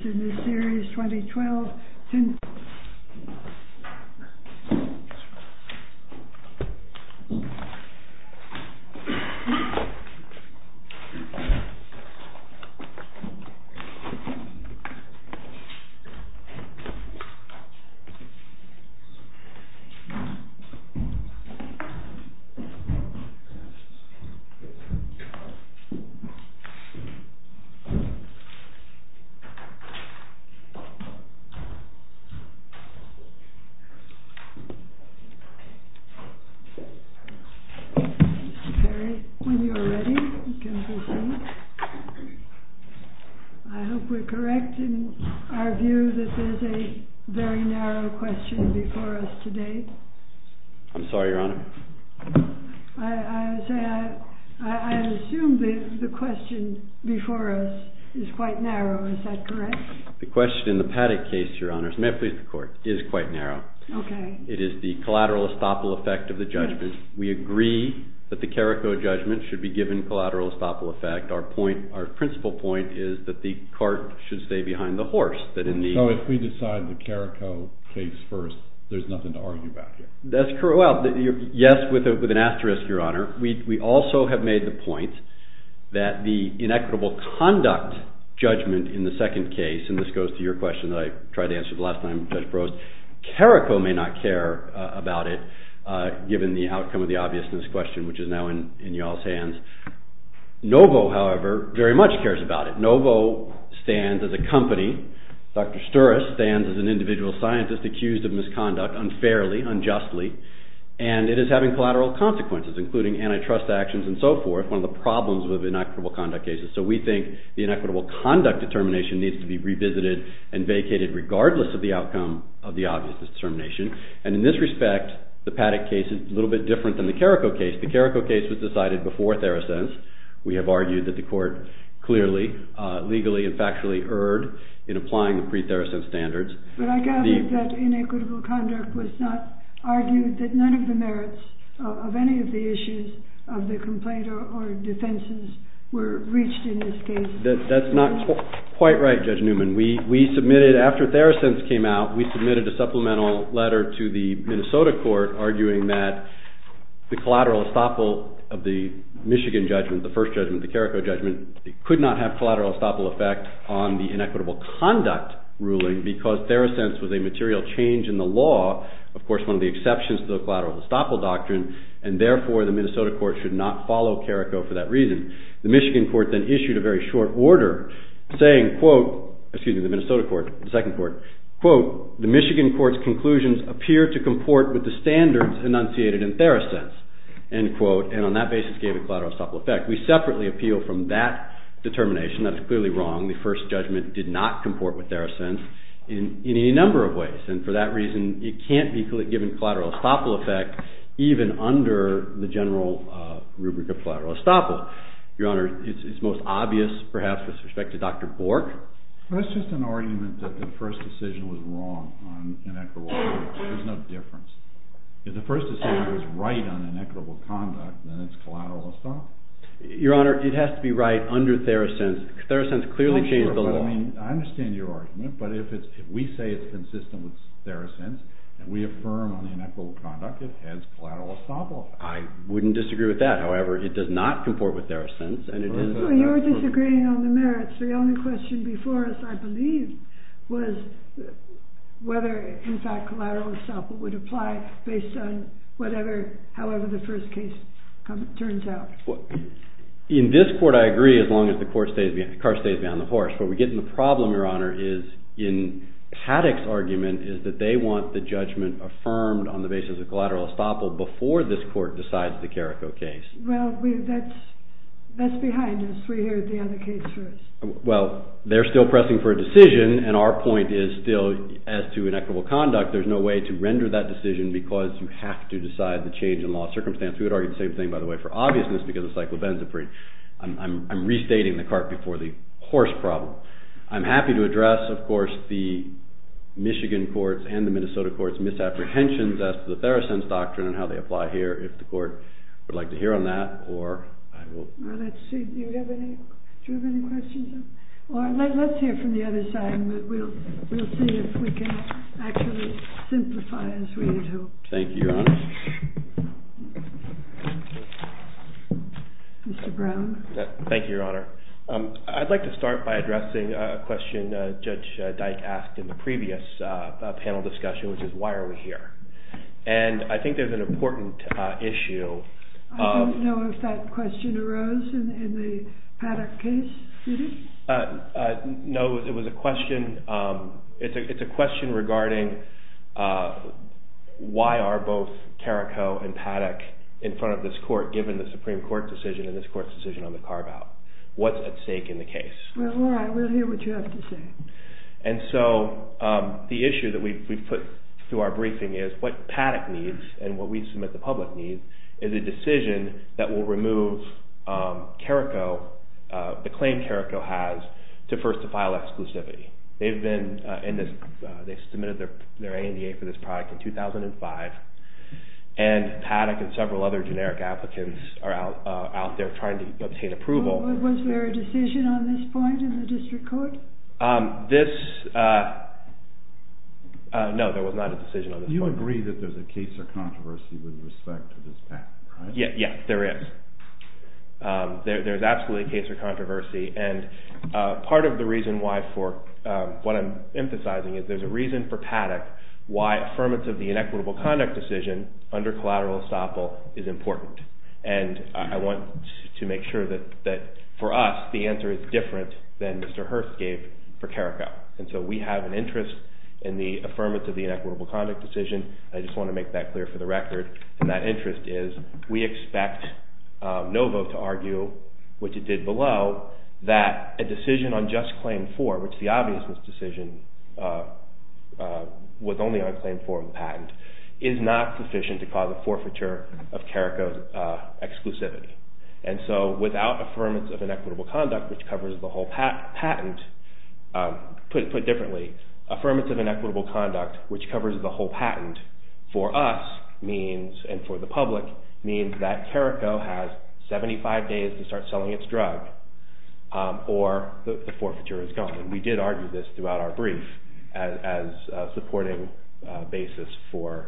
series 2012 Mr. Perry, when you are ready, you can proceed. I hope we are correct in our view that there is a very narrow question before us today. I'm sorry, Your Honor. I assume the question before us is quite narrow. Is that correct? The question in the Paddock case, Your Honor, may it please the Court, is quite narrow. Okay. It is the collateral estoppel effect of the judgment. We agree that the Carrico judgment should be given collateral estoppel effect. Our point, our principal point is that the cart should stay behind the horse. So if we decide the Carrico case first, there's nothing to argue about here. That's correct. Yes, with an asterisk, Your Honor. We also have made the point that the inequitable conduct judgment in the second case, and this goes to your question that I tried to answer the last time Judge Brost, Carrico may not care about it given the outcome of the obviousness question, which is now in y'all's hands. Novo, however, very much cares about it. Novo stands as a company. Dr. Sturas stands as an individual scientist accused of misconduct unfairly, unjustly, and it is having collateral consequences, including antitrust actions and so forth, one of the problems with inequitable conduct cases. So we think the inequitable conduct determination needs to be revisited and vacated regardless of the outcome of the obviousness determination. And in this respect, the Paddock case is a little bit different than the Carrico case. The Carrico case was decided before Theracense. We have argued that the Court clearly, legally, and factually erred in applying the pre-Theracense standards. But I gather that inequitable conduct was not argued, that none of the merits of any of the issues of the complaint or defenses were reached in this case. That's not quite right, Judge Newman. We submitted, after Theracense came out, we submitted a supplemental letter to the Minnesota Court arguing that the collateral estoppel of the Michigan judgment, the first judgment, the Carrico judgment, could not have collateral estoppel effect on the inequitable conduct ruling because Theracense was a material change in the law, of course one of the exceptions to the collateral estoppel doctrine, and therefore the Minnesota Court should not follow Carrico for that reason. The Michigan Court then issued a very short order saying, quote, excuse me, the Minnesota Court, the second court, quote, the Michigan Court's conclusions appear to comport with the standards enunciated in Theracense, end quote, and on that basis gave a collateral estoppel effect. We separately appeal from that determination. That is clearly wrong. The first judgment did not comport with Theracense in any number of ways, and for that reason, it can't be given collateral estoppel effect even under the general rubric of collateral estoppel. Your Honor, it's most obvious, perhaps, with respect to Dr. Bork. That's just an argument that the first decision was wrong on inequitable conduct. There's no difference. If the first decision was right on inequitable conduct, then it's collateral estoppel. Your Honor, it has to be right under Theracense. Theracense clearly changed the law. I understand your argument, but if we say it's consistent with Theracense, and we affirm on inequitable conduct, it has collateral estoppel effect. I wouldn't disagree with that. However, it does not comport with Theracense. You're disagreeing on the merits. The only question I believe was whether, in fact, collateral estoppel would apply based on however the first case turns out. In this court, I agree as long as the car stays behind the horse. What we get in the problem, Your Honor, is in Paddock's argument is that they want the judgment affirmed on the basis of collateral estoppel before this court decides the Carrico case. That's behind us. We are still pressing for a decision, and our point is still, as to inequitable conduct, there's no way to render that decision because you have to decide the change in law circumstance. We would argue the same thing, by the way, for obviousness, because it's like labenzaprine. I'm restating the cart before the horse problem. I'm happy to address, of course, the Michigan courts and the Minnesota courts' misapprehensions as to the Theracense doctrine and how they apply here, if the court would like to hear on that. Let's hear from the other side, and we'll see if we can actually simplify as we need to. Thank you, Your Honor. Mr. Brown. Thank you, Your Honor. I'd like to start by addressing a question Judge Dyke asked in the briefing, which is an important issue. I don't know if that question arose in the Paddock case, Judy. No, it was a question regarding why are both Carrico and Paddock in front of this court, given the Supreme Court's decision and this court's decision on the carve-out? What's at stake in the case? Well, all right. We'll hear what you have to say. The issue that we've put through our briefing is what Paddock needs and what we submit the public needs is a decision that will remove the claim Carrico has to first to file exclusivity. They've submitted their ANDA for this product in 2005, and Paddock and several other generic applicants are out there trying to obtain approval. Was there a decision on this point in the district court? No, there was not a decision on this point. You agree that there's a case or controversy with respect to this Paddock, right? Yes, there is. There's absolutely a case or controversy, and part of the reason why for what I'm emphasizing is there's a reason for Paddock why affirmance of the inequitable conduct decision under collateral estoppel is important, and I want to make sure that for us, the answer is different than Mr. Hearst gave for Carrico, and so we have an interest in the affirmance of the inequitable conduct decision, and I just want to make that clear for the record, and that interest is we expect Novo to argue, which it did below, that a decision on just claim four, which the obviousness decision was only on claim four of the patent, is not sufficient to cause a forfeiture of Carrico's exclusivity, and so without affirmance of inequitable conduct, which covers the whole patent, put differently, affirmance of inequitable conduct, which covers the whole patent, for us means, and for the public, means that Carrico has 75 days to start selling its drug, or the forfeiture is gone, and we did argue this throughout our brief as a supporting basis for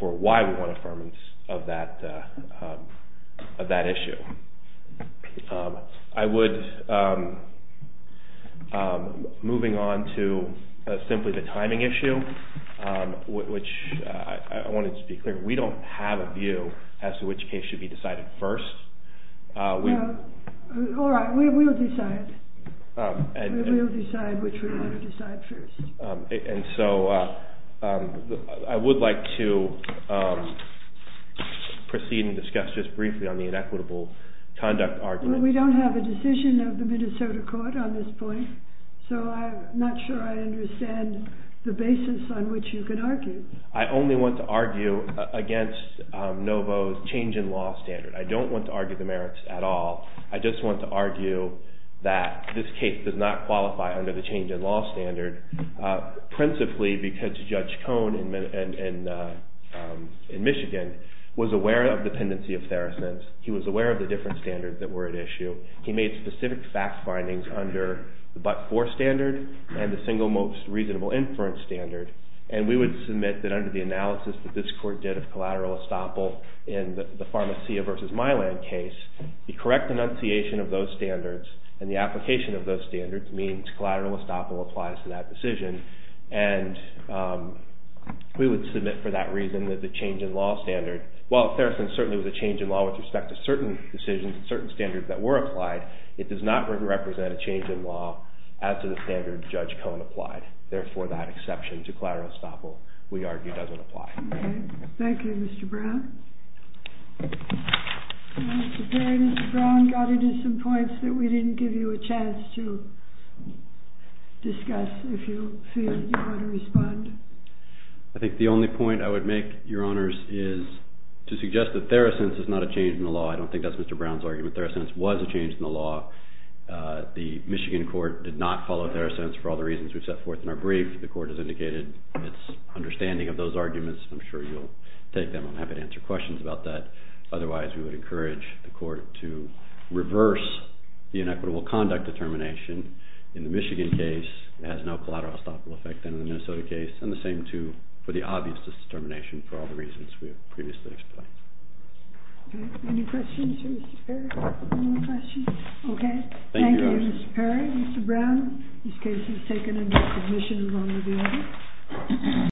why we want affirmance of that issue. I would, moving on to simply the timing issue, which I wanted to be clear, we don't have a view as to which case should be decided first. All right, we will decide. We will decide which we want to decide first. And so I would like to proceed and discuss just briefly on the inequitable conduct argument. We don't have a decision of the Minnesota court on this point, so I'm not sure I understand the basis on which you could argue. I only want to argue against Novo's change in law standard. I don't want to argue the merits at all. I just want to argue that this case does not qualify under the change in law standard, principally because Judge Cohn in Michigan was aware of dependency of Theracins. He was aware of the different standards that were at issue. He made specific fact findings under the but-for standard and the single most reasonable inference standard. And we would submit that under the analysis that this court did of collateral estoppel in the Pharmacia v. Milan case, the correct enunciation of those standards and the application of those standards means collateral estoppel applies to that decision. And we would submit for that reason that the change in law standard, while Theracins certainly was a change in law with respect to certain decisions and certain standards that were applied, it does not represent a change in law as to the standard Judge Cohn applied. Therefore, that exception to collateral estoppel, we argue, doesn't apply. Thank you, Mr. Brown. Mr. Perry, Mr. Brown got into some points that we didn't give you a chance to discuss if you feel you want to respond. I think the only point I would make, Your Honors, is to suggest that Theracins is not a change in the law. I don't think that's Mr. Brown's argument. Theracins was a change in the law. The Michigan court did not follow Theracins for all the reasons we've set forth in our brief. The court has indicated its understanding of those arguments. I'm sure you'll take them. I'm happy to answer questions about that. Otherwise, we would encourage the court to reverse the inequitable conduct determination in the Michigan case. It has no collateral estoppel effect in the Minnesota case. And the same too for the obvious determination for all the reasons we have previously explained. Any questions for Mr. Perry? Any more questions? Okay. Thank you, Your Honors. Thank you, Mr. Perry, Mr. Brown. This case is taken into submission. We're going to be over.